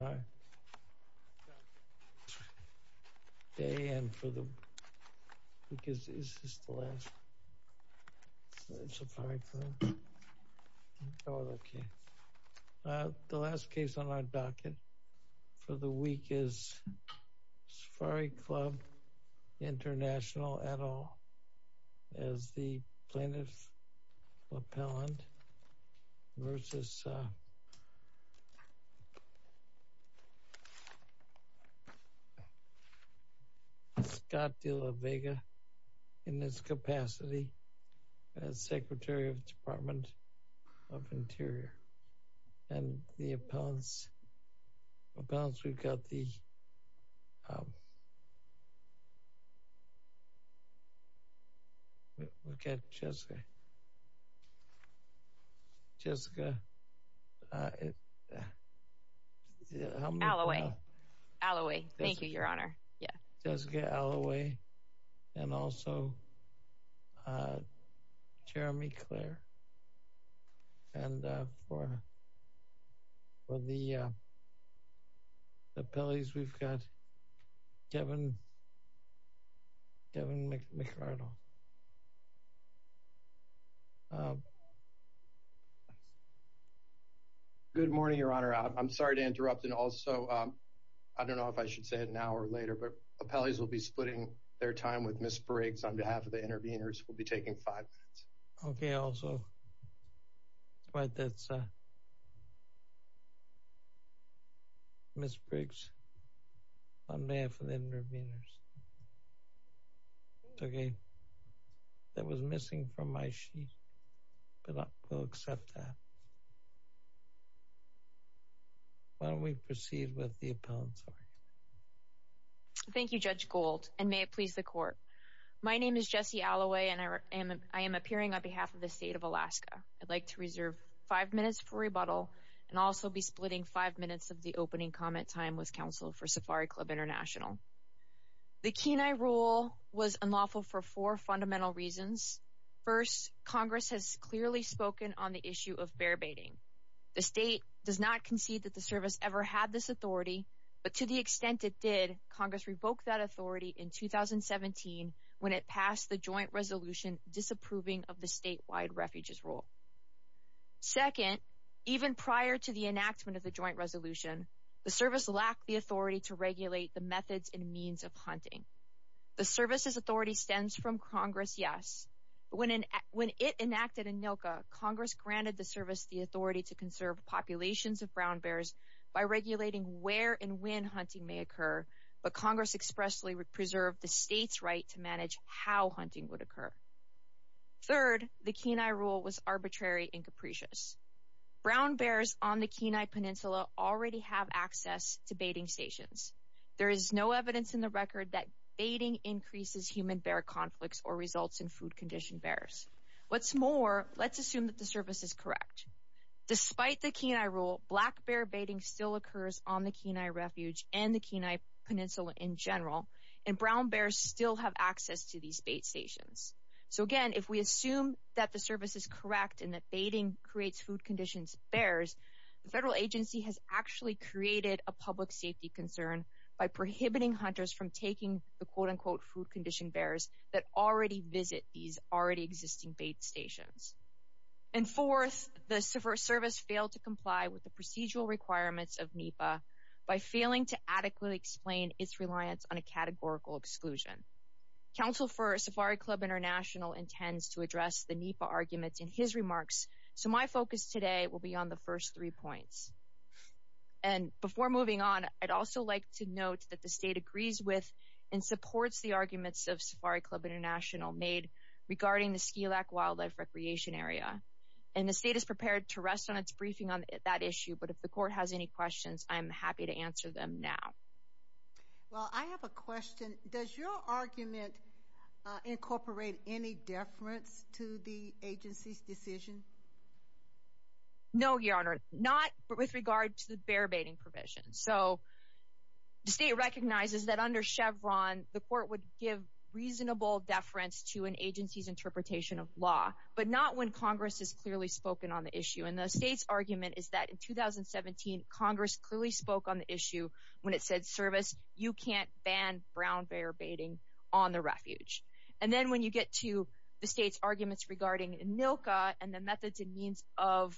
The last case on our docket for the week is Safari Club International et al. as the plaintiff versus Scott De La Vega in this capacity as Secretary of the Department of Jessica Alloway Alloway thank you your honor yeah Jessica Alloway and also Jeremy Clare and for the appellees we've got Devin Devin McArdle good morning your honor I'm sorry to interrupt and also I don't know if I should say it now or later but appellees will be splitting their time with Miss Briggs on behalf of the interveners will be taking five minutes okay also right that's Miss Briggs on behalf of the interveners okay that was missing from why she will accept that why don't we proceed with the appellants thank you judge gold and may it please the court my name is Jesse Alloway and I am I am appearing on behalf of the state of Alaska I'd like to reserve five minutes for rebuttal and also be splitting five minutes of the opening comment time with counsel for Safari Club International the Kenai rule was unlawful for four Congress has clearly spoken on the issue of bear baiting the state does not concede that the service ever had this authority but to the extent it did Congress revoked that authority in 2017 when it passed the joint resolution disapproving of the statewide refuges rule second even prior to the enactment of the joint resolution the service lacked the authority to regulate the methods and means of hunting the services authority stems from Congress yes when in when it enacted in ILCA Congress granted the service the authority to conserve populations of brown bears by regulating where and when hunting may occur but Congress expressly would preserve the state's right to manage how hunting would occur third the Kenai rule was arbitrary and capricious brown bears on the Kenai Peninsula already have access to baiting stations there is no evidence in the record that baiting increases human bear conflicts or results in food condition bears what's more let's assume that the service is correct despite the Kenai rule black bear baiting still occurs on the Kenai refuge and the Kenai Peninsula in general and brown bears still have access to these bait stations so again if we assume that the service is correct and that baiting creates food conditions bears the federal agency has actually created a public safety concern by prohibiting hunters from taking the quote-unquote food condition bears that already visit these already existing bait stations and fourth the server service failed to comply with the procedural requirements of NEPA by failing to adequately explain its reliance on a categorical exclusion counsel for Safari Club International intends to address the NEPA arguments in his remarks so my focus today will be on the first three points and before moving on I'd also like to note that the state agrees with and supports the arguments of Safari Club International made regarding the Ski Lack Wildlife Recreation Area and the state is prepared to rest on its briefing on that issue but if the court has any questions I'm happy to answer them now well I have a question does your argument incorporate any deference to the agency's decision no your honor not with regard to the bear baiting provisions so the state recognizes that under Chevron the court would give reasonable deference to an agency's interpretation of law but not when Congress is clearly spoken on the issue and the state's argument is that in 2017 Congress clearly spoke on the issue when it said service you can't ban brown bear baiting on the refuge and then when you get to the state's arguments regarding in Milka and the methods and means of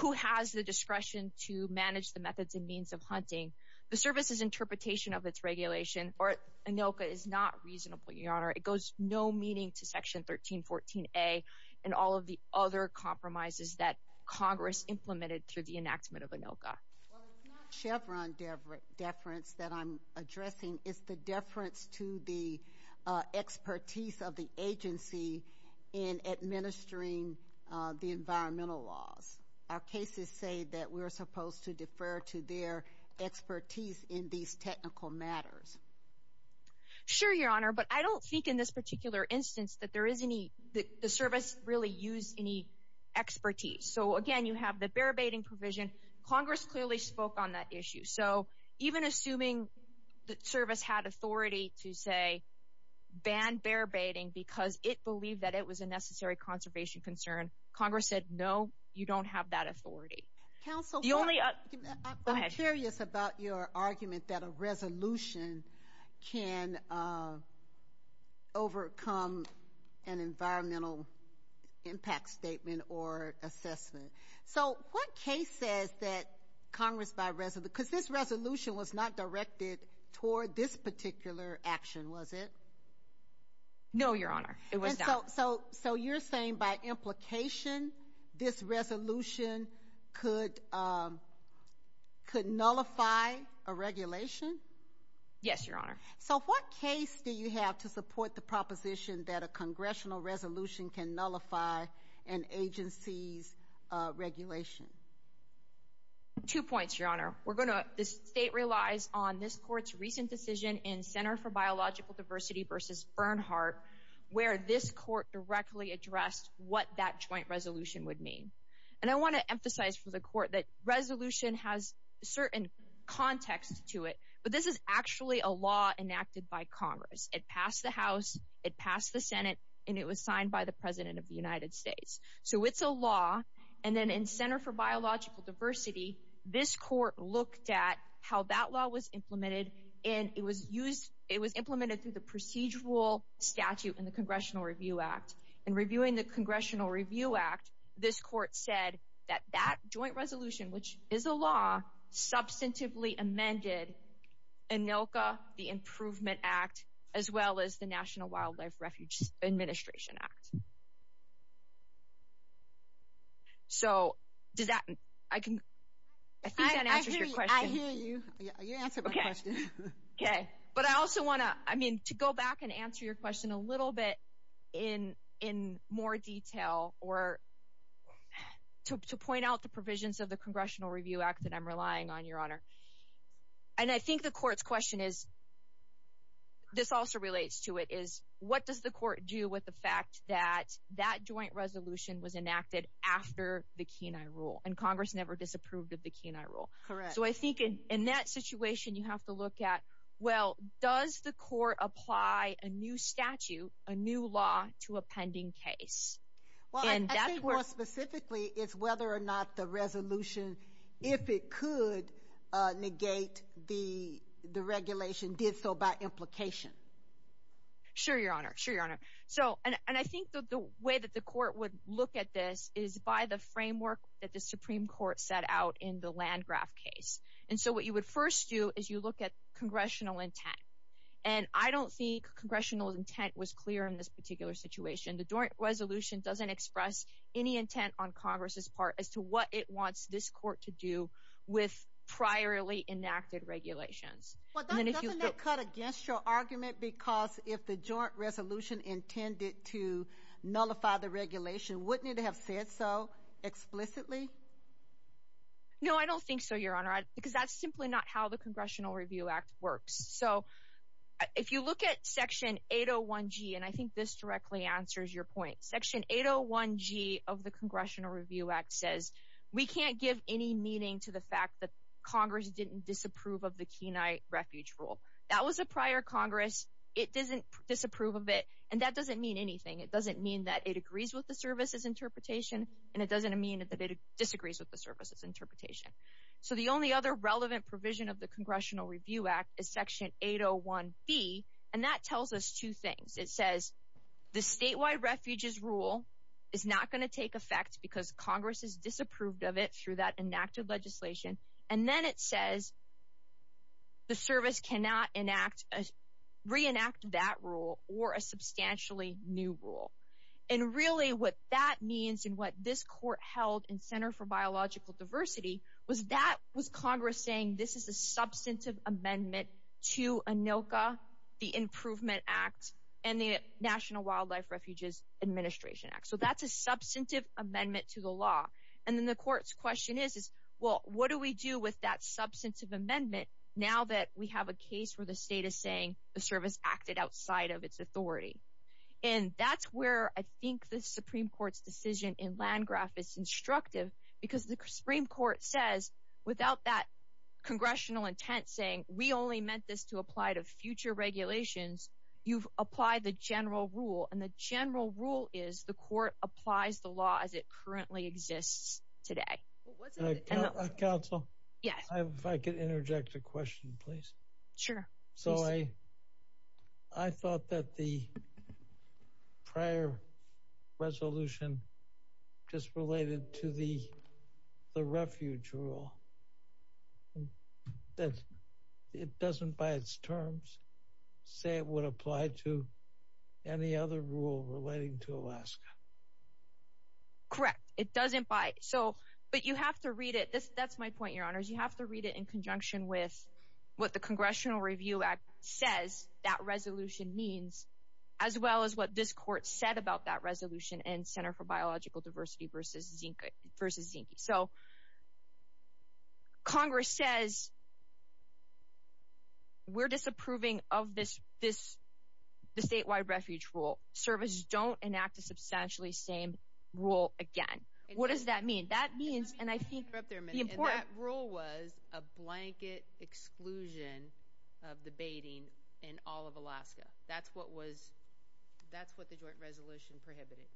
who has the discretion to manage the methods and means of hunting the service's interpretation of its regulation or Anoka is not reasonable your honor it goes no meaning to section 1314 a and all of the other compromises that Congress implemented through the enactment of Anoka Chevron different deference that I'm addressing is the deference to the expertise of the agency in administering the environmental laws our cases say that we're supposed to defer to their expertise in these technical matters sure your honor but I don't think in this particular instance that there is any the service really use any expertise so again you have the bear baiting provision Congress clearly spoke on that issue so even assuming the service had authority to say ban bear baiting because it believed that it was a necessary conservation concern Congress said no you don't have that authority council you only a curious about your argument that a resolution can overcome an environmental impact statement or assessment so what case says that Congress by resident because this resolution was not directed toward this particular action was it no your honor it was so so you're saying by implication this resolution could could nullify a regulation yes your honor so what case do you have to support the proposition that a congressional resolution can nullify an agency's regulation two points your honor we're going to the state relies on this court's recent decision in Center for Biological Diversity versus Bernhardt where this court directly addressed what that joint resolution would mean and I want to emphasize for the court that resolution has certain context to it but this is actually a law enacted by Congress it passed the house it passed the Senate and it was signed by the president of the United States so it's a law and then in Center for Biological Diversity this court looked at how that law was implemented and it was used it was implemented to the procedural statute in the Congressional Review Act in reviewing the Congressional Review Act this court said that that joint resolution which is a law substantively amended and no the Improvement Act as well as the National Wildlife Refuge Administration Act so does that I can but I also want to I mean to go back and answer your question a little bit in in more detail or to point out the provisions of the Congressional Review Act that I'm relying on your honor and I think the court's question is this also relates to it is what does the court do with the fact that that joint resolution was enacted after the Kenai rule and Congress never disapproved of the Kenai rule so I think in that situation you have to look at well does the court apply a new statute a new law to a pending case well and that was specifically is whether or not the regulation did so by implication sure your honor sure your honor so and I think the way that the court would look at this is by the framework that the Supreme Court set out in the land graph case and so what you would first do is you look at congressional intent and I don't think congressional intent was clear in this particular situation the joint resolution doesn't express any intent on Congress's part as to what it wants this court to do with priorly against your argument because if the joint resolution intended to nullify the regulation wouldn't it have said so explicitly no I don't think so your honor because that's simply not how the Congressional Review Act works so if you look at section 801 G and I think this directly answers your point section 801 G of the Congressional Review Act says we can't give any meaning to the fact that Congress didn't disapprove of the Kenai refuge rule that was a prior Congress it doesn't disapprove of it and that doesn't mean anything it doesn't mean that it agrees with the services interpretation and it doesn't mean that it disagrees with the services interpretation so the only other relevant provision of the Congressional Review Act is section 801 B and that tells us two things it says the statewide refuges rule is not going to take effect because Congress is disapproved of it through that enacted legislation and then it says the service cannot enact as reenact that rule or a substantially new rule and really what that means and what this court held in Center for Biological Diversity was that was Congress saying this is a substantive amendment to Anoka the Improvement Act and the National Wildlife Refuges Administration Act so that's a substantive amendment to the courts question is is well what do we do with that substantive amendment now that we have a case where the state is saying the service acted outside of its authority and that's where I think the Supreme Court's decision in Landgraf is instructive because the Supreme Court says without that congressional intent saying we only meant this to apply to future regulations you've applied the general rule and the general rule is the court applies the law as it currently exists today yeah if I could interject a question please sure so I I thought that the prior resolution just related to the the refuge rule that it doesn't by its terms say it would apply to any other rule relating to Alaska correct it doesn't bite so but you have to read it this that's my point your honors you have to read it in conjunction with what the Congressional Review Act says that resolution means as well as what this court said about that resolution and Center for Biological Diversity vs. Zinke vs. Zinke so Congress says we're disapproving of this this the statewide refuge rule service don't enact a rule again what does that mean that means and I think that rule was a blanket exclusion of the baiting in all of Alaska that's what was that's what the joint resolution prohibited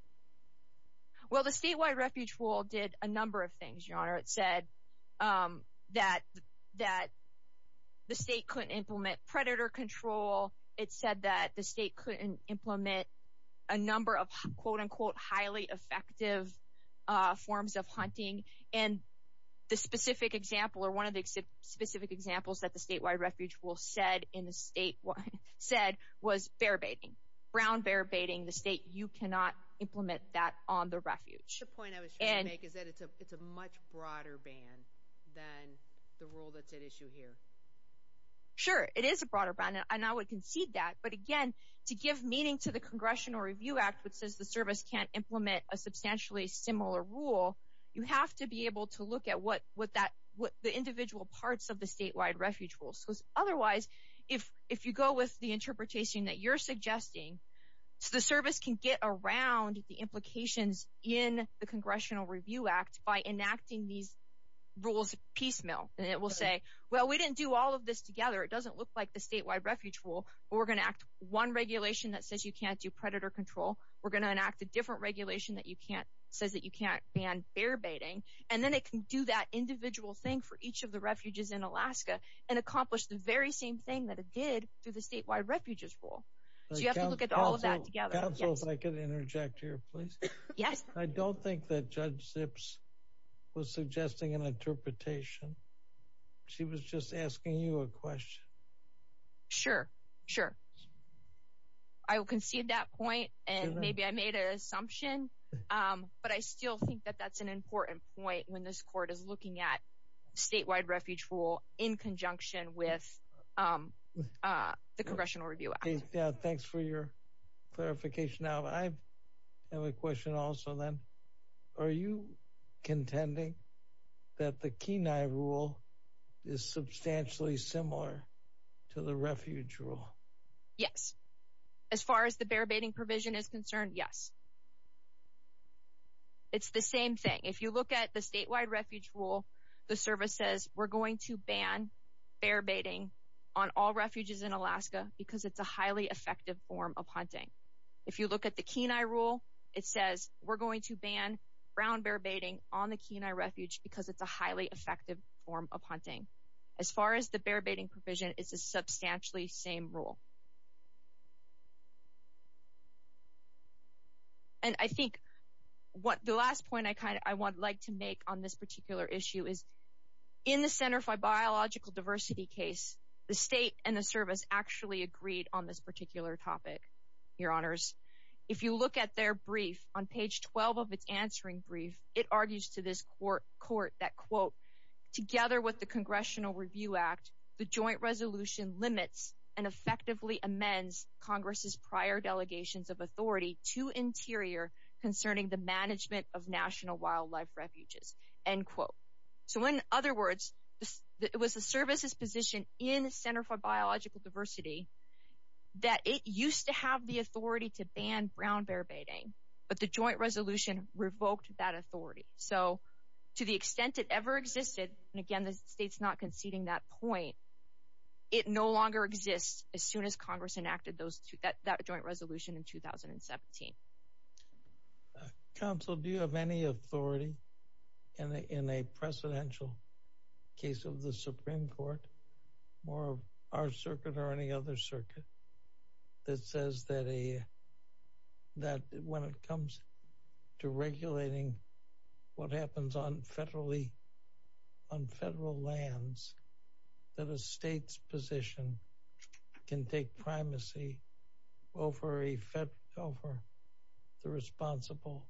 well the statewide refuge rule did a number of things your honor it said that that the state couldn't implement predator control it said that the state couldn't implement a number of quote-unquote highly effective forms of hunting and the specific example or one of the specific examples that the statewide refuge will said in the state what said was bear baiting brown bear baiting the state you cannot implement that on the refuge point I was and it's a much broader ban than the rule that's at issue here sure it is a broader ban and I would concede that but again to give meaning to the Congressional Review Act which says the service can't implement a substantially similar rule you have to be able to look at what what that what the individual parts of the statewide refuge rules because otherwise if if you go with the interpretation that you're suggesting so the service can get around the implications in the Congressional Review Act by enacting these rules piecemeal and it will say well we didn't do all of this together it doesn't look like the statewide refuge rule we're gonna act one regulation that says you can't do predator control we're gonna enact a different regulation that you can't says that you can't ban bear baiting and then it can do that individual thing for each of the refuges in Alaska and accomplish the very same thing that it did through the statewide refuges rule I don't think that judge sure sure I will concede that point and maybe I made an assumption but I still think that that's an important point when this court is looking at statewide refuge rule in conjunction with the Congressional Review yeah thanks for your clarification now I have a question also then are you contending that the refuge rule yes as far as the bear baiting provision is concerned yes it's the same thing if you look at the statewide refuge rule the service says we're going to ban bear baiting on all refuges in Alaska because it's a highly effective form of hunting if you look at the Kenai rule it says we're going to ban brown bear baiting on the Kenai refuge because it's a highly effective form of hunting as far as the bear baiting provision is a substantially same rule and I think what the last point I kind of I would like to make on this particular issue is in the Center for biological diversity case the state and the service actually agreed on this particular topic your honors if you look at their brief on page 12 of its answering brief it argues to this court that quote together with the Congressional Review Act the joint resolution limits and effectively amends Congress's prior delegations of authority to interior concerning the management of national wildlife refuges and quote so in other words it was the services position in the Center for biological diversity that it used to have the authority to ban brown bear baiting but the joint resolution revoked that authority so to the extent it ever existed and again the state's not conceding that point it no longer exists as soon as Congress enacted those two that that joint resolution in 2017 council do you have any authority in a in a presidential case of the Supreme our circuit or any other circuit that says that a that when it comes to regulating what happens on federally on federal lands that a state's position can take primacy over effect over the responsible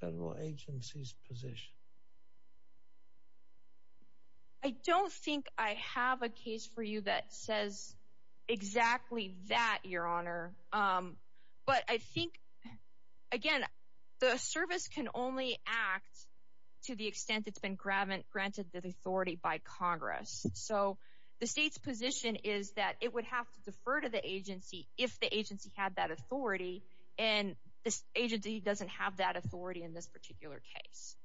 federal agencies position I don't think I have a case for you that says exactly that your honor but I think again the service can only act to the extent it's been grabbed and granted the authority by Congress so the state's position is that it would have to defer to the agency if the agency had that authority and this agency doesn't have that authority in this particular case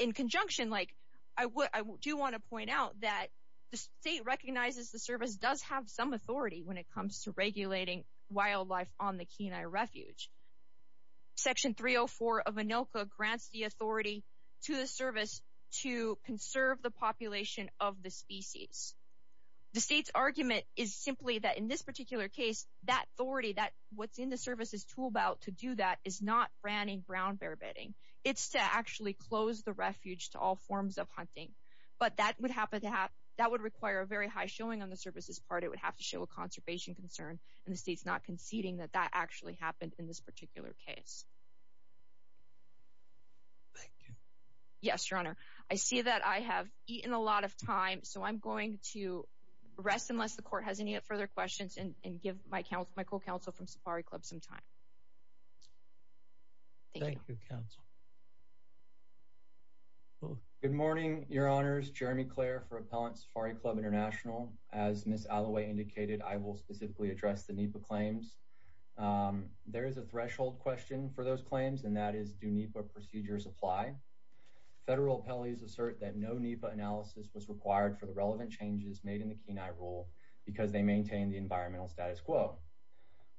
in conjunction like I would I do want to point out that the state recognizes the service does have some authority when it comes to regulating wildlife on the Kenai refuge section 304 of Anoka grants the authority to the service to conserve the population of the species the state's argument is simply that in this particular case that authority that what's in the services to about to do that is not brown bear bedding it's to actually close the refuge to all forms of hunting but that would happen to have that would require a very high showing on the services part it would have to show a conservation concern and it's not conceding that that actually happened in this particular case yes your honor I see that I have eaten a lot of time so I'm going to rest unless the court has any further questions and give my Michael counsel from Safari Club some time thank you counsel oh good morning your honors Jeremy Claire for appellants Safari Club International as Miss Alloway indicated I will specifically address the NEPA claims there is a threshold question for those claims and that is do NEPA procedures apply federal appellees assert that no NEPA analysis was required for the relevant changes made in the Kenai rule because they maintain the environmental status quo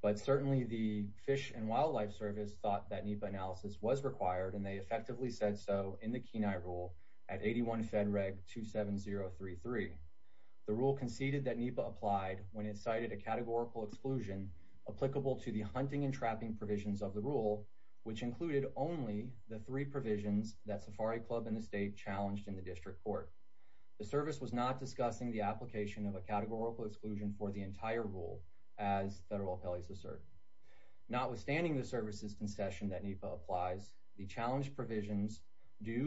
but certainly the Fish and Wildlife Service thought that NEPA analysis was required and they effectively said so in the Kenai rule at 81 Fed Reg 27033 the rule conceded that NEPA applied when it cited a categorical exclusion applicable to the hunting and trapping provisions of the rule which included only the three provisions that Safari Club in the state challenged in the district court the service was not discussing the application of a categorical exclusion for the entire rule as federal appellees assert notwithstanding the services concession that NEPA applies the challenge provisions do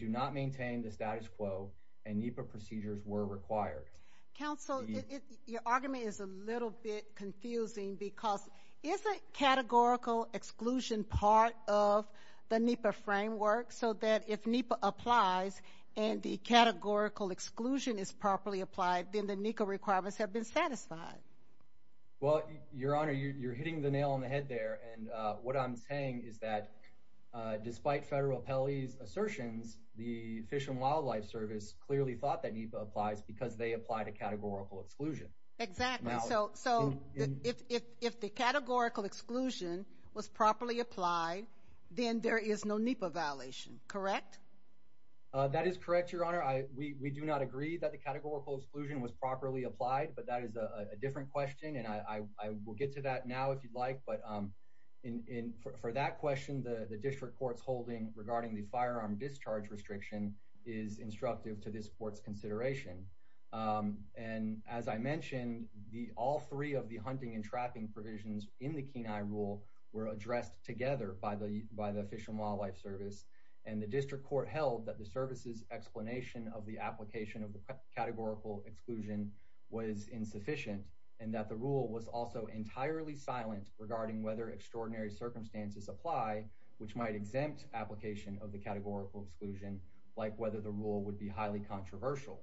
do not maintain the status quo and NEPA procedures were required counsel your argument is a little bit confusing because it's a categorical exclusion part of the NEPA framework so that if NEPA applies and the categorical exclusion is properly applied in the NECA requirements have been satisfied well your honor you're hitting the nail on the head there and what I'm saying is that despite federal appellees assertions the Fish and Wildlife Service clearly thought that NEPA applies because they applied a categorical exclusion exactly so so if the categorical exclusion was properly applied then there is no NEPA violation correct that is correct your honor I we do not agree that the categorical exclusion was properly applied but that is a different question and I will get to that now if you'd like but in for that question the the district courts holding regarding the firearm discharge restriction is instructive to this courts consideration and as I mentioned the all three of the hunting and trapping provisions in the Kenai rule were addressed together by the by the Fish and Wildlife Service and the application of the categorical exclusion was insufficient and that the rule was also entirely silent regarding whether extraordinary circumstances apply which might exempt application of the categorical exclusion like whether the rule would be highly controversial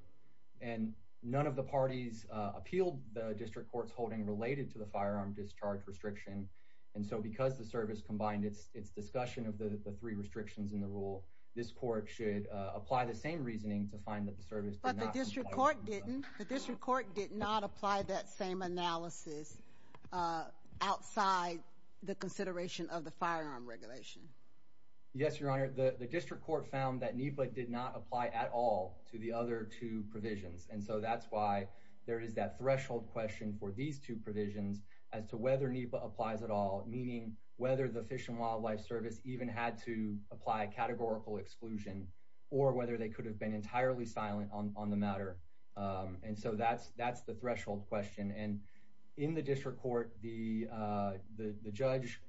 and none of the parties appealed the district courts holding related to the firearm discharge restriction and so because the service combined its its discussion of the three restrictions in the rule this court should apply the same reasoning to find that the service but the district court didn't the district court did not apply that same analysis outside the consideration of the firearm regulation yes your honor the the district court found that NEPA did not apply at all to the other two provisions and so that's why there is that threshold question for these two provisions as to whether NEPA applies at all meaning whether the Fish and categorical exclusion or whether they could have been entirely silent on the matter and so that's that's the threshold question and in the district court the the judge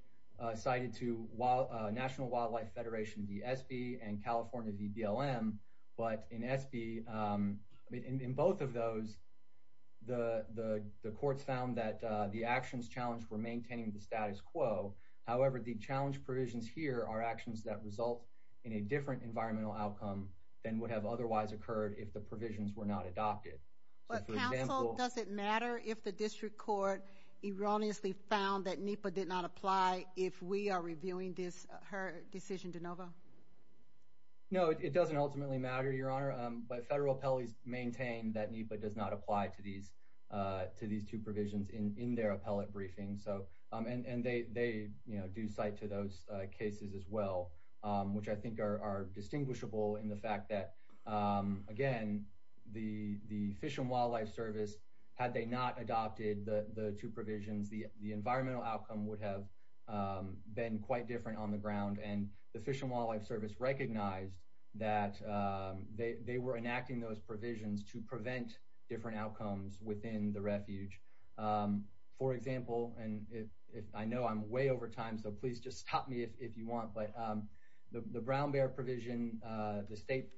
cited to while National Wildlife Federation DSB and California DBLM but in SB in both of those the the courts found that the actions challenged were maintaining the status quo however the challenge provisions here are actions that result in a different environmental outcome then would have otherwise occurred if the provisions were not adopted does it matter if the district court erroneously found that NEPA did not apply if we are reviewing this her decision to Nova no it doesn't ultimately matter your honor but federal appellees maintain that NEPA does not apply to these to these two provisions in their appellate briefing so and and they they you know do cite to those cases as well which I think are distinguishable in the fact that again the the Fish and Wildlife Service had they not adopted the the two provisions the the environmental outcome would have been quite different on the ground and the Fish and Wildlife Service recognized that they were enacting those provisions to prevent different outcomes within the refuge for example and if I know I'm way over time so please just stop me if you want but the brown bear provision the state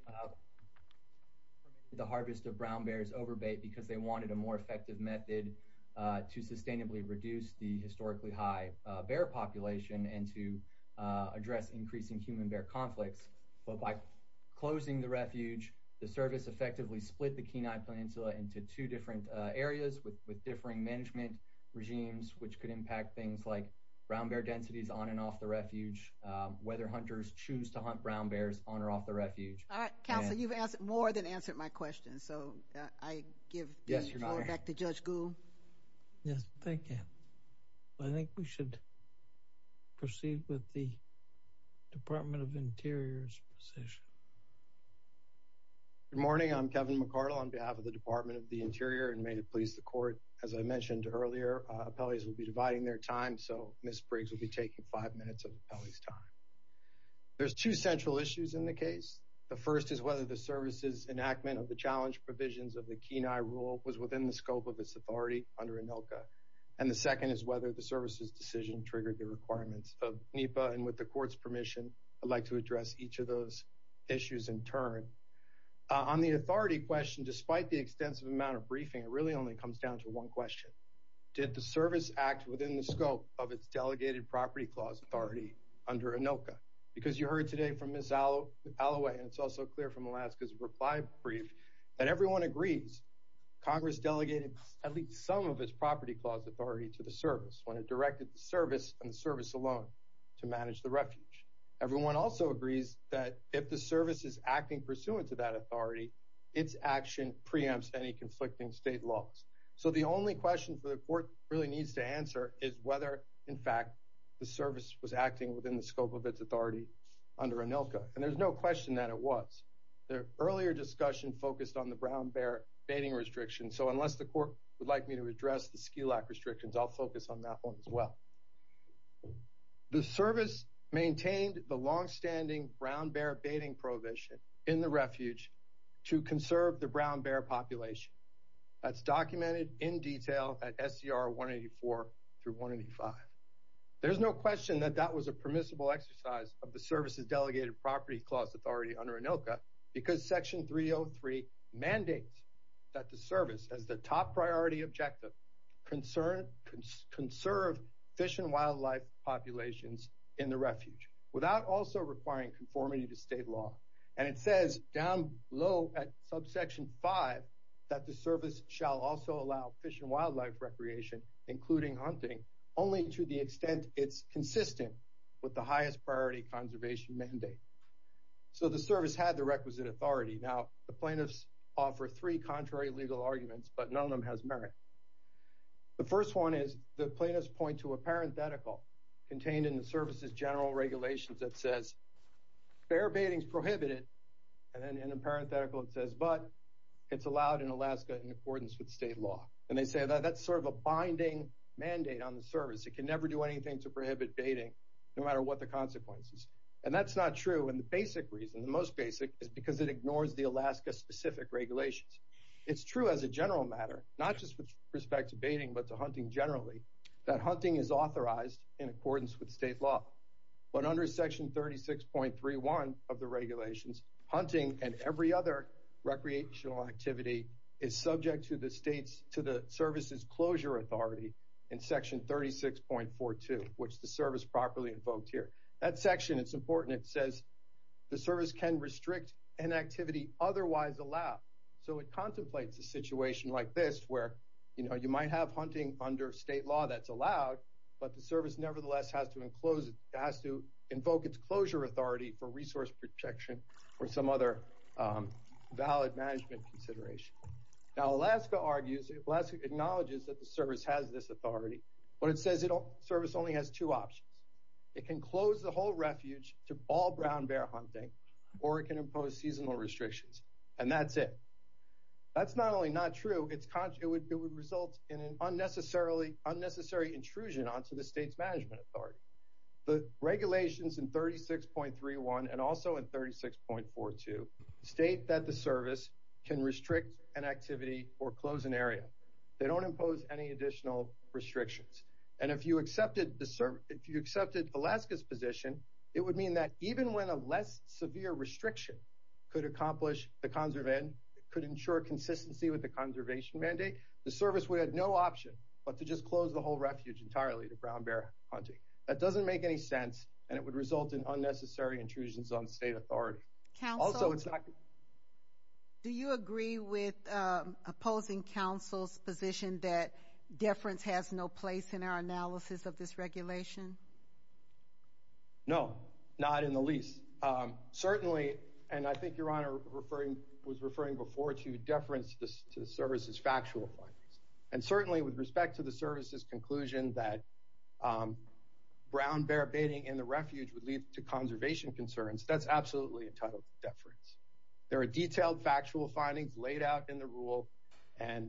the harvest of brown bears over bait because they wanted a more effective method to sustainably reduce the historically high bear population and to address increasing human bear conflicts but by closing the refuge the service effectively split the Kenai Peninsula into two different areas with brown bear densities on and off the refuge whether hunters choose to hunt brown bears on or off the refuge more than answer my question so I think we should proceed with the Department of Interior's morning I'm Kevin McCardle on behalf of the Department of the Interior and made it please the court as I miss Briggs will be taking five minutes of time there's two central issues in the case the first is whether the services enactment of the challenge provisions of the Kenai rule was within the scope of this authority under a milka and the second is whether the services decision triggered the requirements of NEPA and with the courts permission I'd like to address each of those issues in turn on the authority question despite the extensive amount of briefing it really only comes down to one question did the service act within the scope of its delegated property clause authority under Anoka because you heard today from Miss Aloe and it's also clear from Alaska's reply brief that everyone agrees Congress delegated at least some of its property clause authority to the service when it directed the service and service alone to manage the refuge everyone also agrees that if the service is acting pursuant to that authority its action preempts any conflicting state laws so the only question for the court really needs to answer is whether in fact the service was acting within the scope of its authority under Anoka and there's no question that it was their earlier discussion focused on the brown bear baiting restriction so unless the court would like me to address the ski lack restrictions I'll focus on that one as well the service maintained the long-standing brown bear baiting prohibition in the refuge to conserve the brown bear population that's documented in detail at SCR 184 through 185 there's no question that that was a permissible exercise of the services delegated property clause authority under Anoka because section 303 mandates that the service has the top priority objective concern conserve fish and wildlife populations in the refuge without also requiring conformity to state law and it says down low at subsection 5 that the service shall also allow fish and wildlife recreation including hunting only to the extent it's consistent with the highest priority conservation mandate so the service had the requisite authority now the plaintiffs offer three contrary legal arguments but none of them has merit the first one is the plaintiffs point to a parenthetical contained in the services general regulations that says bear baiting prohibited and then in a parenthetical it says but it's allowed in Alaska in accordance with state law and they say that that's sort of a binding mandate on the service it can never do anything to prohibit baiting no matter what the consequences and that's not true and the basic reason the most basic is because it ignores the Alaska specific regulations it's true as a general matter not just with respect to baiting but to hunting generally that section 36.31 of the regulations hunting and every other recreational activity is subject to the state's to the services closure authority in section 36.42 which the service properly invoked here that section it's important it says the service can restrict an activity otherwise allowed so it contemplates a situation like this where you know you might have hunting under state law that's invoke its closure authority for resource protection or some other valid management consideration now Alaska argues it last acknowledges that the service has this authority what it says it'll service only has two options it can close the whole refuge to all brown bear hunting or it can impose seasonal restrictions and that's it that's not only not true it's conscious it would it would result in an unnecessarily unnecessary intrusion onto the state's the regulations in 36.31 and also in 36.42 state that the service can restrict an activity or close an area they don't impose any additional restrictions and if you accepted the serve if you accepted Alaska's position it would mean that even when a less severe restriction could accomplish the conservation could ensure consistency with the conservation mandate the service we had no option but to just close the whole refuge entirely to bear hunting that doesn't make any sense and it would result in unnecessary intrusions on state authority can also it's not do you agree with opposing counsel's position that deference has no place in our analysis of this regulation no not in the least certainly and I think your honor referring was referring before to deference this to the service's factual findings and certainly with respect to the service's conclusion that brown bear baiting in the refuge would lead to conservation concerns that's absolutely entitled deference there are detailed factual findings laid out in the rule and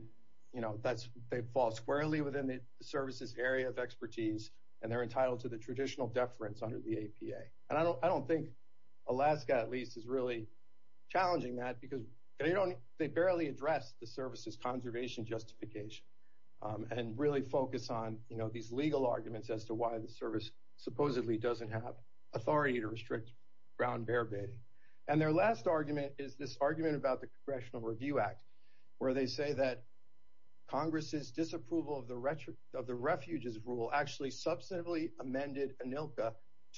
you know that's they fall squarely within the service's area of expertise and they're entitled to the traditional deference under the APA and I don't I don't think Alaska at least is really challenging that because they don't they and really focus on you know these legal arguments as to why the service supposedly doesn't have authority to restrict brown bear baiting and their last argument is this argument about the Congressional Review Act where they say that Congress's disapproval of the rhetoric of the refuges rule actually substantively amended Anilka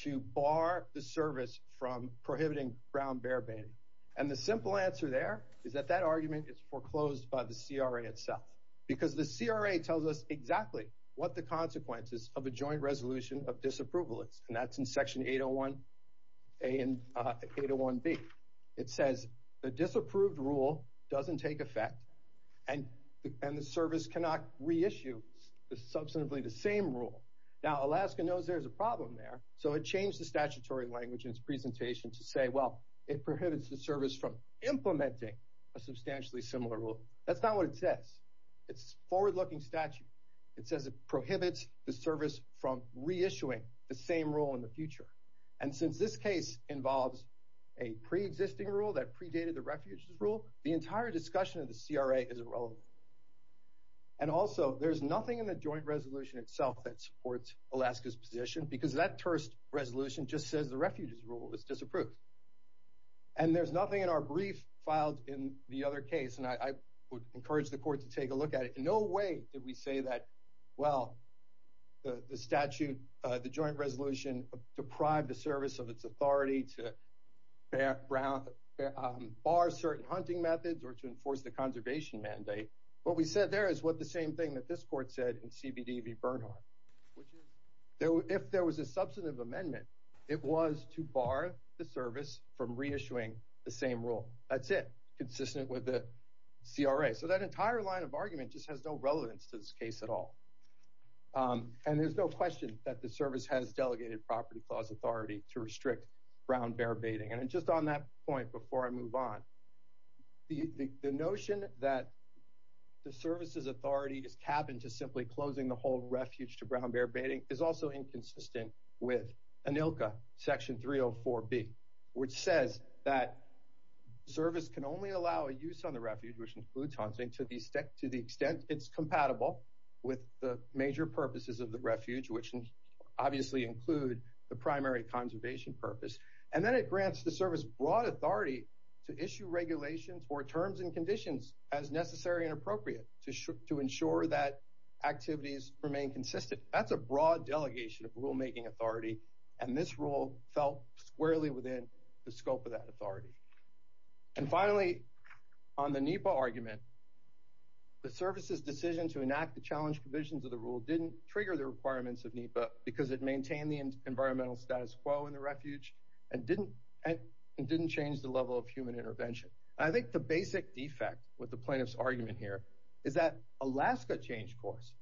to bar the service from prohibiting brown bear baiting and the simple answer there is that that argument is foreclosed by the CRA tells us exactly what the consequences of a joint resolution of disapproval it's and that's in section 801 a and 801 B it says the disapproved rule doesn't take effect and and the service cannot reissue the substantively the same rule now Alaska knows there's a problem there so it changed the statutory language in its presentation to say well it prohibits the service from implementing a substantially similar rule that's not what it says it's forward-looking statute it says it prohibits the service from reissuing the same rule in the future and since this case involves a pre-existing rule that predated the refuges rule the entire discussion of the CRA is irrelevant and also there's nothing in the joint resolution itself that supports Alaska's position because that terse resolution just says the refuges rule is disapproved and there's nothing in our brief filed in the other case and I would encourage the court to take a look at it in no way did we say that well the statute the joint resolution deprived the service of its authority to background bar certain hunting methods or to enforce the conservation mandate what we said there is what the same thing that this court said in CBDV Bernhardt which is though if there was a substantive amendment it was to bar the service from reissuing the same rule that's it consistent with the CRA so that entire line of argument just has no relevance to this case at all and there's no question that the service has delegated property clause authority to restrict brown bear baiting and just on that point before I move on the notion that the service's authority is capped into simply closing the whole refuge to brown bear baiting is also inconsistent with an ILCA section 304 B which says that service can only allow a use on the refuge which includes hunting to the extent to the extent it's compatible with the major purposes of the refuge which obviously include the primary conservation purpose and then it grants the service broad authority to issue regulations or terms and conditions as necessary and appropriate to ensure that activities remain consistent that's a broad delegation of rulemaking authority and this rule felt squarely within the scope of that authority and finally on the NEPA argument the service's decision to enact the challenge provisions of the rule didn't trigger the requirements of NEPA because it maintained the environmental status quo in the refuge and didn't and didn't change the level of human intervention I think the basic defect with the plaintiffs argument here is that Alaska changed course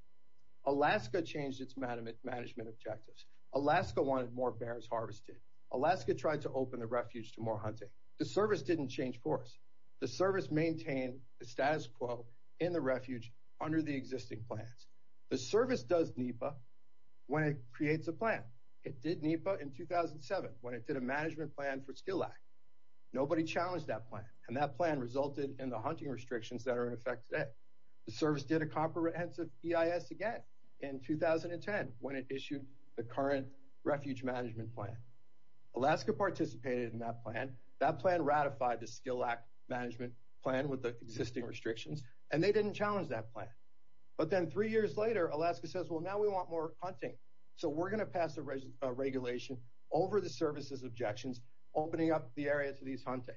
Alaska changed its management management objectives Alaska wanted more bears harvested Alaska tried to open the refuge to more hunting the service didn't change course the service maintained the status quo in the refuge under the existing plans the service does NEPA when it creates a plan it did NEPA in 2007 when it did a management plan for skill act nobody challenged that plan and that plan resulted in the hunting restrictions that are in effect today the service did a comprehensive EIS again in 2010 when it issued the current refuge management plan Alaska participated in that plan that plan ratified the skill act management plan with the existing restrictions and they didn't challenge that plan but then three years later Alaska says well now we want more hunting so we're gonna pass the regulation over the services objections opening up the area to these hunting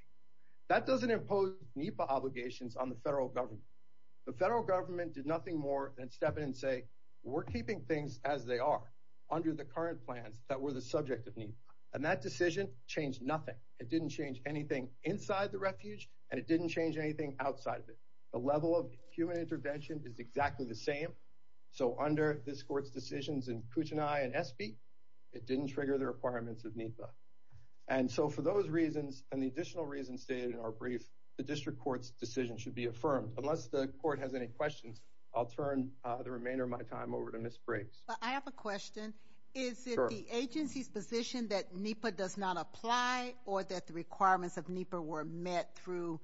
that doesn't impose NEPA obligations on the federal government the federal government did nothing more than step in and say we're keeping things as they are under the current plans that were the subject of need and that decision changed nothing it didn't change anything inside the refuge and it didn't change anything outside of it the level of human intervention is exactly the same so under this courts decisions in kuchin I and SB it didn't trigger the requirements of NEPA and so for those reasons and the additional reason stated in our brief the district courts decision should be affirmed unless the court has any questions I'll turn the remainder of my time over to miss Briggs I have a question is the agency's position that NEPA does not apply or that the requirements of NEPA were met through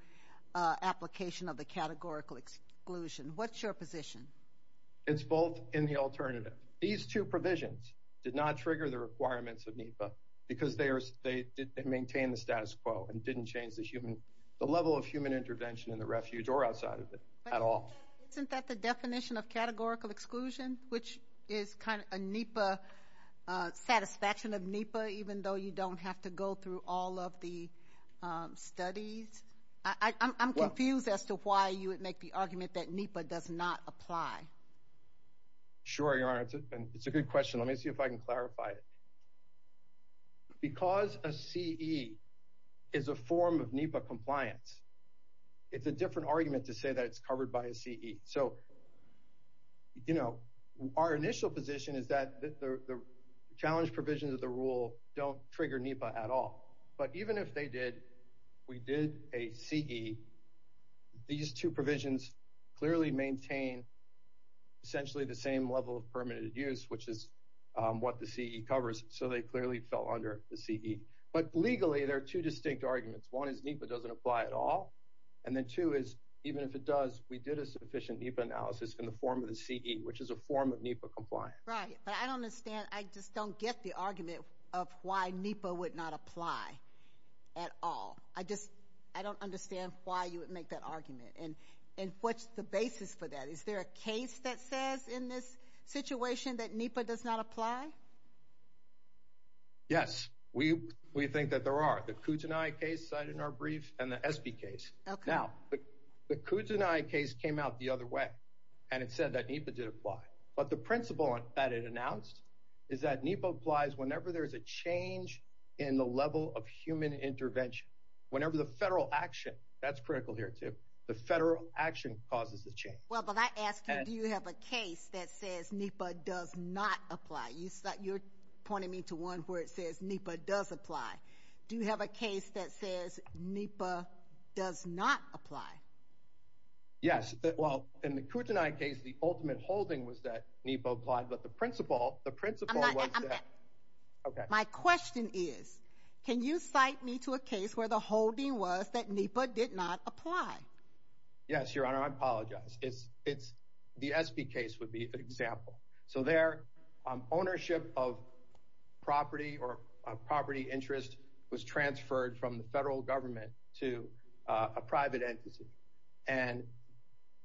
application of the categorical exclusion what's your position it's both in the alternative these two provisions did not trigger the requirements of NEPA because they are state they maintain the status quo and didn't change the human the level of intervention in the refuge or outside of it at all isn't that the definition of categorical exclusion which is kind of a NEPA satisfaction of NEPA even though you don't have to go through all of the studies I'm confused as to why you would make the argument that NEPA does not apply sure your honor it's a good question let me see if I can clarify it because a CE is a form of NEPA compliance it's a different argument to say that it's covered by a CE so you know our initial position is that the challenge provisions of the rule don't trigger NEPA at all but even if they did we did a CE these two provisions clearly maintain essentially the same level of permitted use which is what the CE covers so they clearly fell under the CE but legally there are two distinct arguments one is NEPA doesn't apply at all and then two is even if it does we did a sufficient NEPA analysis in the form of the CE which is a form of NEPA compliance right but I don't understand I just don't get the argument of why NEPA would not apply at all I just I don't understand why you would make that argument and and what's the basis for that is there a case that says in this situation that NEPA does not apply yes we we think that there are the Kootenai case cited in our brief and the SB case now the Kootenai case came out the other way and it said that NEPA did apply but the principle that it announced is that NEPA applies whenever there is a change in the level of human intervention whenever the federal action that's critical here too the federal action causes the change well but I asked you do you have a case that says NEPA does not apply you thought you're pointing me to one where it says NEPA does apply do you have a case that says NEPA does not apply yes well in the Kootenai case the ultimate holding was that NEPA applied but the principle the principle okay my question is can you cite me to a case where the holding was that NEPA did not apply yes your honor I apologize it's it's the SB case would be an example so ownership of property or property interest was transferred from the federal government to a private entity and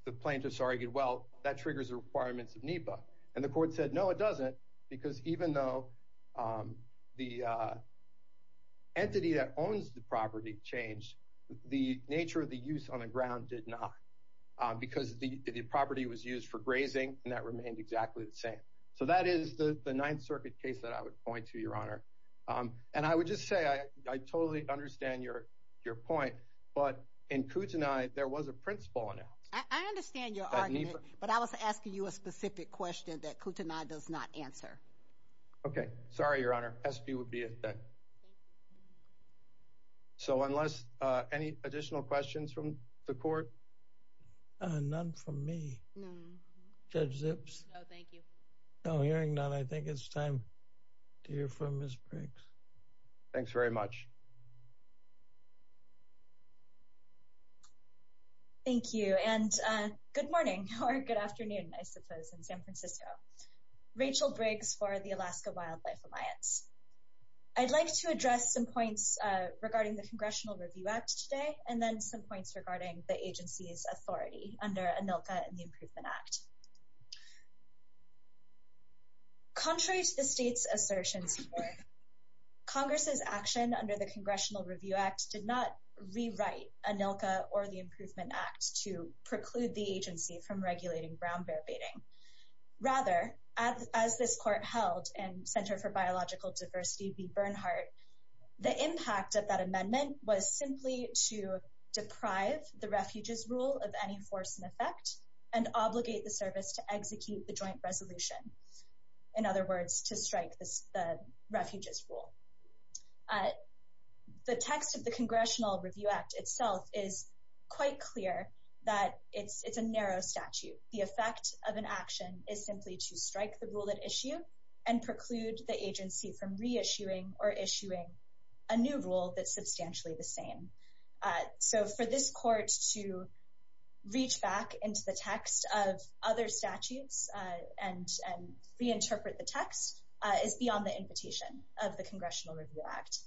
the plaintiffs argued well that triggers the requirements of NEPA and the court said no it doesn't because even though the entity that owns the property changed the nature of the use on the ground did not because the property was used for grazing and that is the the Ninth Circuit case that I would point to your honor and I would just say I totally understand your your point but in Kootenai there was a principle on it I understand your argument but I was asking you a specific question that Kootenai does not answer okay sorry your honor SB would be a thing so unless any additional questions from the court none for me judge zips no hearing none I think it's time to hear from Miss Briggs thanks very much thank you and good morning or good afternoon I suppose in San Francisco Rachel Briggs for the Alaska Wildlife Alliance I'd like to address some points regarding the Congressional Review Act today and then some points regarding the agency's authority under a NILCA and the Improvement Act contrary to the state's assertions Congress's action under the Congressional Review Act did not rewrite a NILCA or the Improvement Act to preclude the agency from regulating brown bear baiting rather as this court held and Center for Biological Diversity be Bernhardt the impact of that amendment was simply to deprive the refuges rule of any force and effect and obligate the service to execute the joint resolution in other words to strike this the refuges rule the text of the Congressional Review Act itself is quite clear that it's it's a narrow statute the effect of an action is simply to strike the rule at issue and preclude the agency from reissuing or issuing a new rule that's this court to reach back into the text of other statutes and reinterpret the text is beyond the invitation of the Congressional Review Act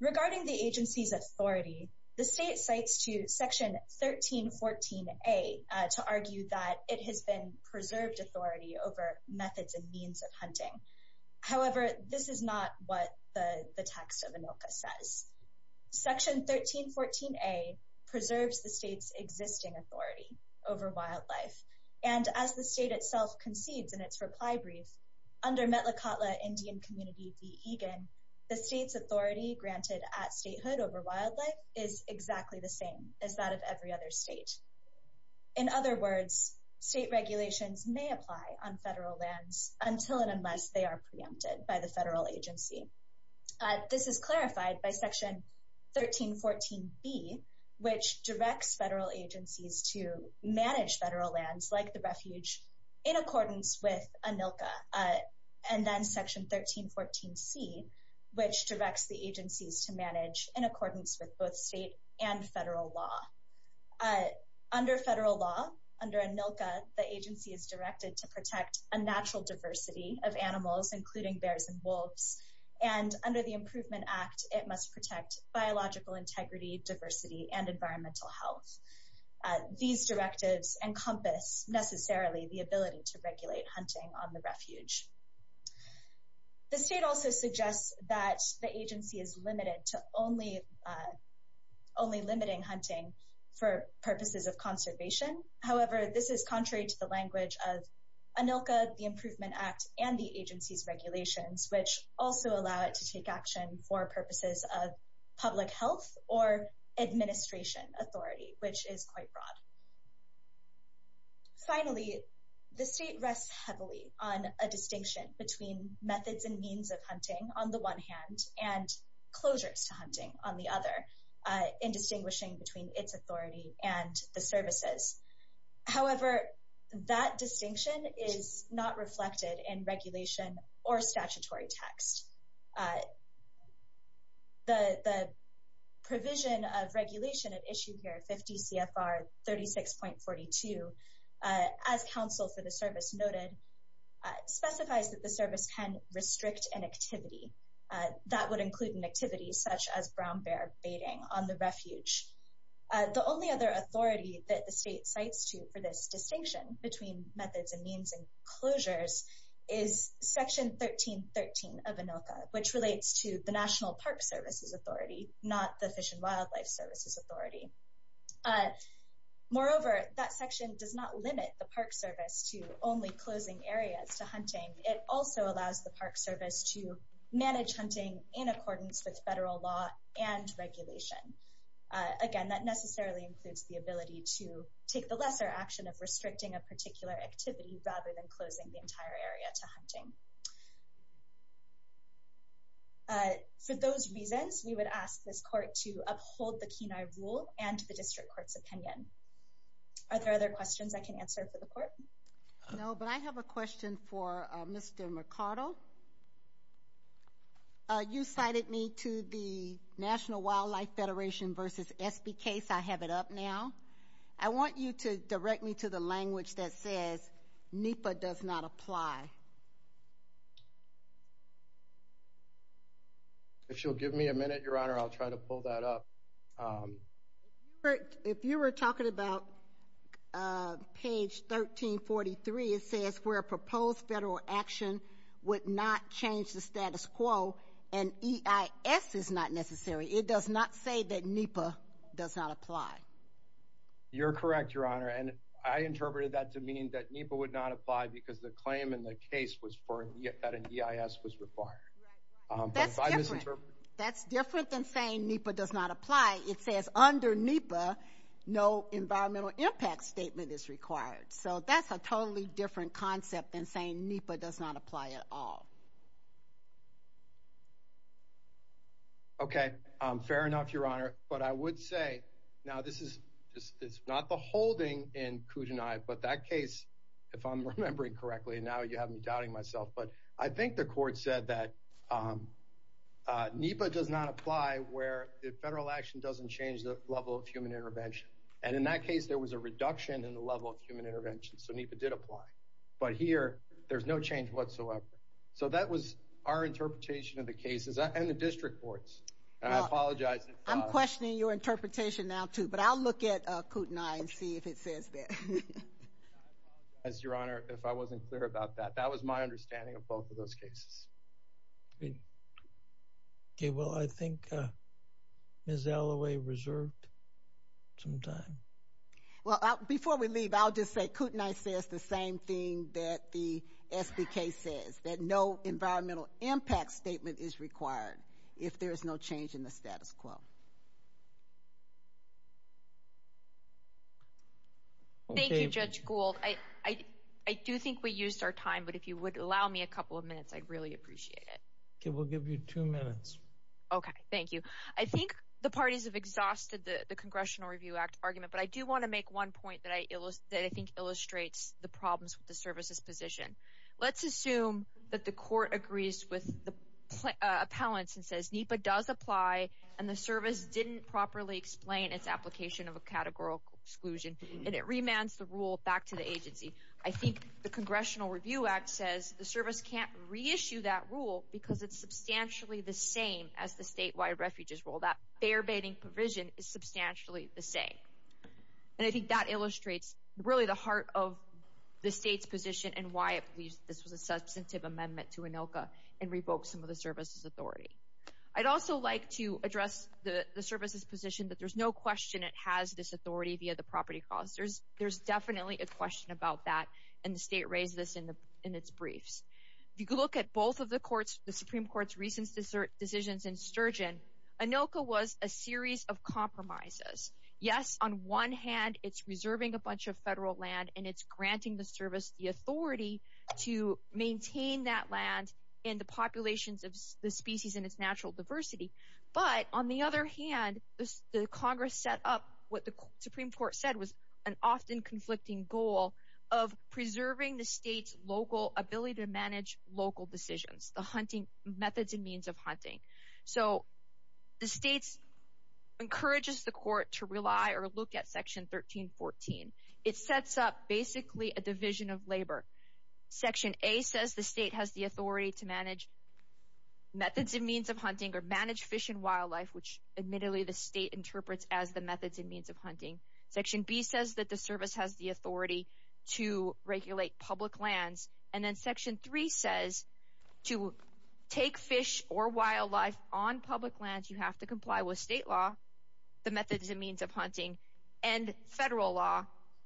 regarding the agency's authority the state cites to section 1314 a to argue that it has been preserved authority over methods and means of hunting however this is not section 1314 a preserves the state's existing authority over wildlife and as the state itself concedes in its reply brief under Indian community the state's authority granted at statehood over wildlife is exactly the same as that of every other state in other words state regulations may apply on federal lands until and unless they are preempted by the federal agency this is clarified by section 1314 B which directs federal agencies to manage federal lands like the refuge in accordance with Anilka and then section 1314 C which directs the agencies to manage in accordance with both state and federal law under federal law under Anilka the agency is directed to protect a natural diversity of animals including bears and wolves and under the Improvement Act it must protect biological integrity diversity and environmental health these directives encompass necessarily the ability to regulate hunting on the refuge the state also suggests that the agency is limited to only only limiting hunting for purposes of conservation however this is contrary to the language of Anilka the Improvement Act and the agency's regulations which also allow it to take action for purposes of public health or administration authority which is quite broad finally the state rests heavily on a distinction between methods and means of hunting on the one hand and closures to hunting on the other in distinguishing between its authority and the services however that distinction is not reflected in regulation or statutory text the provision of regulation at issue here 50 CFR 36.42 as counsel for the service noted specifies that the service can restrict an activity that would include an activity such as brown the only other authority that the state sites to for this distinction between methods and means and closures is section 1313 of Anilka which relates to the National Park Service's authority not the Fish and Wildlife Service's authority moreover that section does not limit the Park Service to only closing areas to hunting it also allows the Park Service to manage hunting in accordance with federal law and regulation again that necessarily includes the ability to take the lesser action of restricting a particular activity rather than closing the entire area to hunting for those reasons we would ask this court to uphold the Kenai rule and the district courts opinion are there other questions I can to the National Wildlife Federation vs. SB case I have it up now I want you to direct me to the language that says NEPA does not apply if you'll give me a minute your honor I'll try to pull that up if you were talking about page 1343 it says where proposed federal action would not change the status quo and EIS is not necessary it does not say that NEPA does not apply you're correct your honor and I interpreted that to mean that NEPA would not apply because the claim in the case was for yet that an EIS was required that's different than saying NEPA does not apply it says under NEPA no environmental impact statement is required so that's a totally different concept than saying NEPA does not apply at all okay fair enough your honor but I would say now this is just it's not the holding in Kootenai but that case if I'm remembering correctly now you have me doubting myself but I think the court said that NEPA does not apply where the federal action doesn't change the level of human intervention and in that case there was a reduction in the level of intervention so NEPA did apply but here there's no change whatsoever so that was our interpretation of the cases and the district courts I apologize I'm questioning your interpretation now too but I'll look at Kootenai and see if it says that as your honor if I wasn't clear about that that was my understanding of both of those cases okay well I think Ms. Alloway reserved some time well before we leave I'll just say Kootenai says the same thing that the SBK says that no environmental impact statement is required if there's no change in the status quo thank you judge Gould I I do think we used our time but if you would allow me a couple of minutes I'd really appreciate it okay we'll give you two minutes okay thank you I think the parties have exhausted the Congressional Review Act argument but I do want to make one point that I think illustrates the problems with the services position let's assume that the court agrees with the appellants and says NEPA does apply and the service didn't properly explain its application of a categorical exclusion and it remands the rule back to the agency I think the Congressional Review Act says the service can't reissue that rule because it's substantially the same as the statewide refuges rule that fair baiting provision is substantially the same and I think that illustrates really the heart of the state's position and why at least this was a substantive amendment to ANILCA and revoked some of the services authority I'd also like to address the the services position that there's no question it has this authority via the property costs there's there's definitely a question about that and the state raised this in the in its briefs if you look at both of the courts the Supreme Court's recent decisions in Sturgeon ANILCA was a series of compromises yes on one hand it's reserving a bunch of federal land and it's granting the service the authority to maintain that land in the populations of the species in its natural diversity but on the other hand the Congress set up what the Supreme Court said was an often conflicting goal of preserving the state's local ability to manage local decisions the hunting methods and means of hunting so the state's encourages the court to rely or look at section 1314 it sets up basically a division of labor section a says the state has the authority to manage methods and means of hunting or manage fish and wildlife which admittedly the state interprets as the methods and means of hunting section B section three says to take fish or wildlife on public lands you have to comply with state law the methods and means of hunting and federal law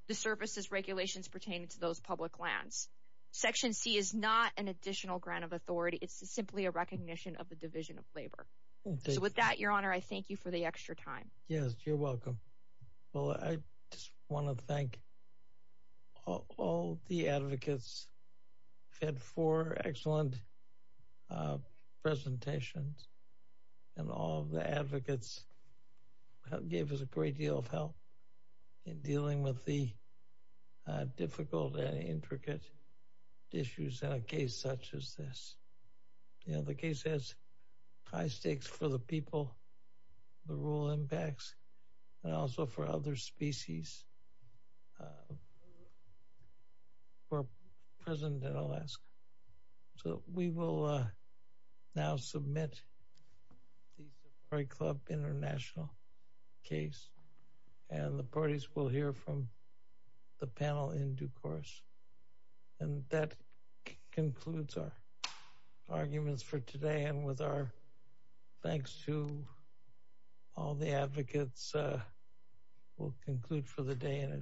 the services regulations pertaining to those public lands section C is not an additional grant of authority it's simply a recognition of the division of labor so with that your honor I thank you for the extra time yes you're four excellent presentations and all the advocates gave us a great deal of help in dealing with the difficult and intricate issues in a case such as this you know the case has high stakes for the people the rural impacts and also for other species we're present in Alaska so we will now submit a club international case and the parties will hear from the panel in due course and that concludes our arguments for today and with our thanks to all the advocates we'll conclude for the day in a journal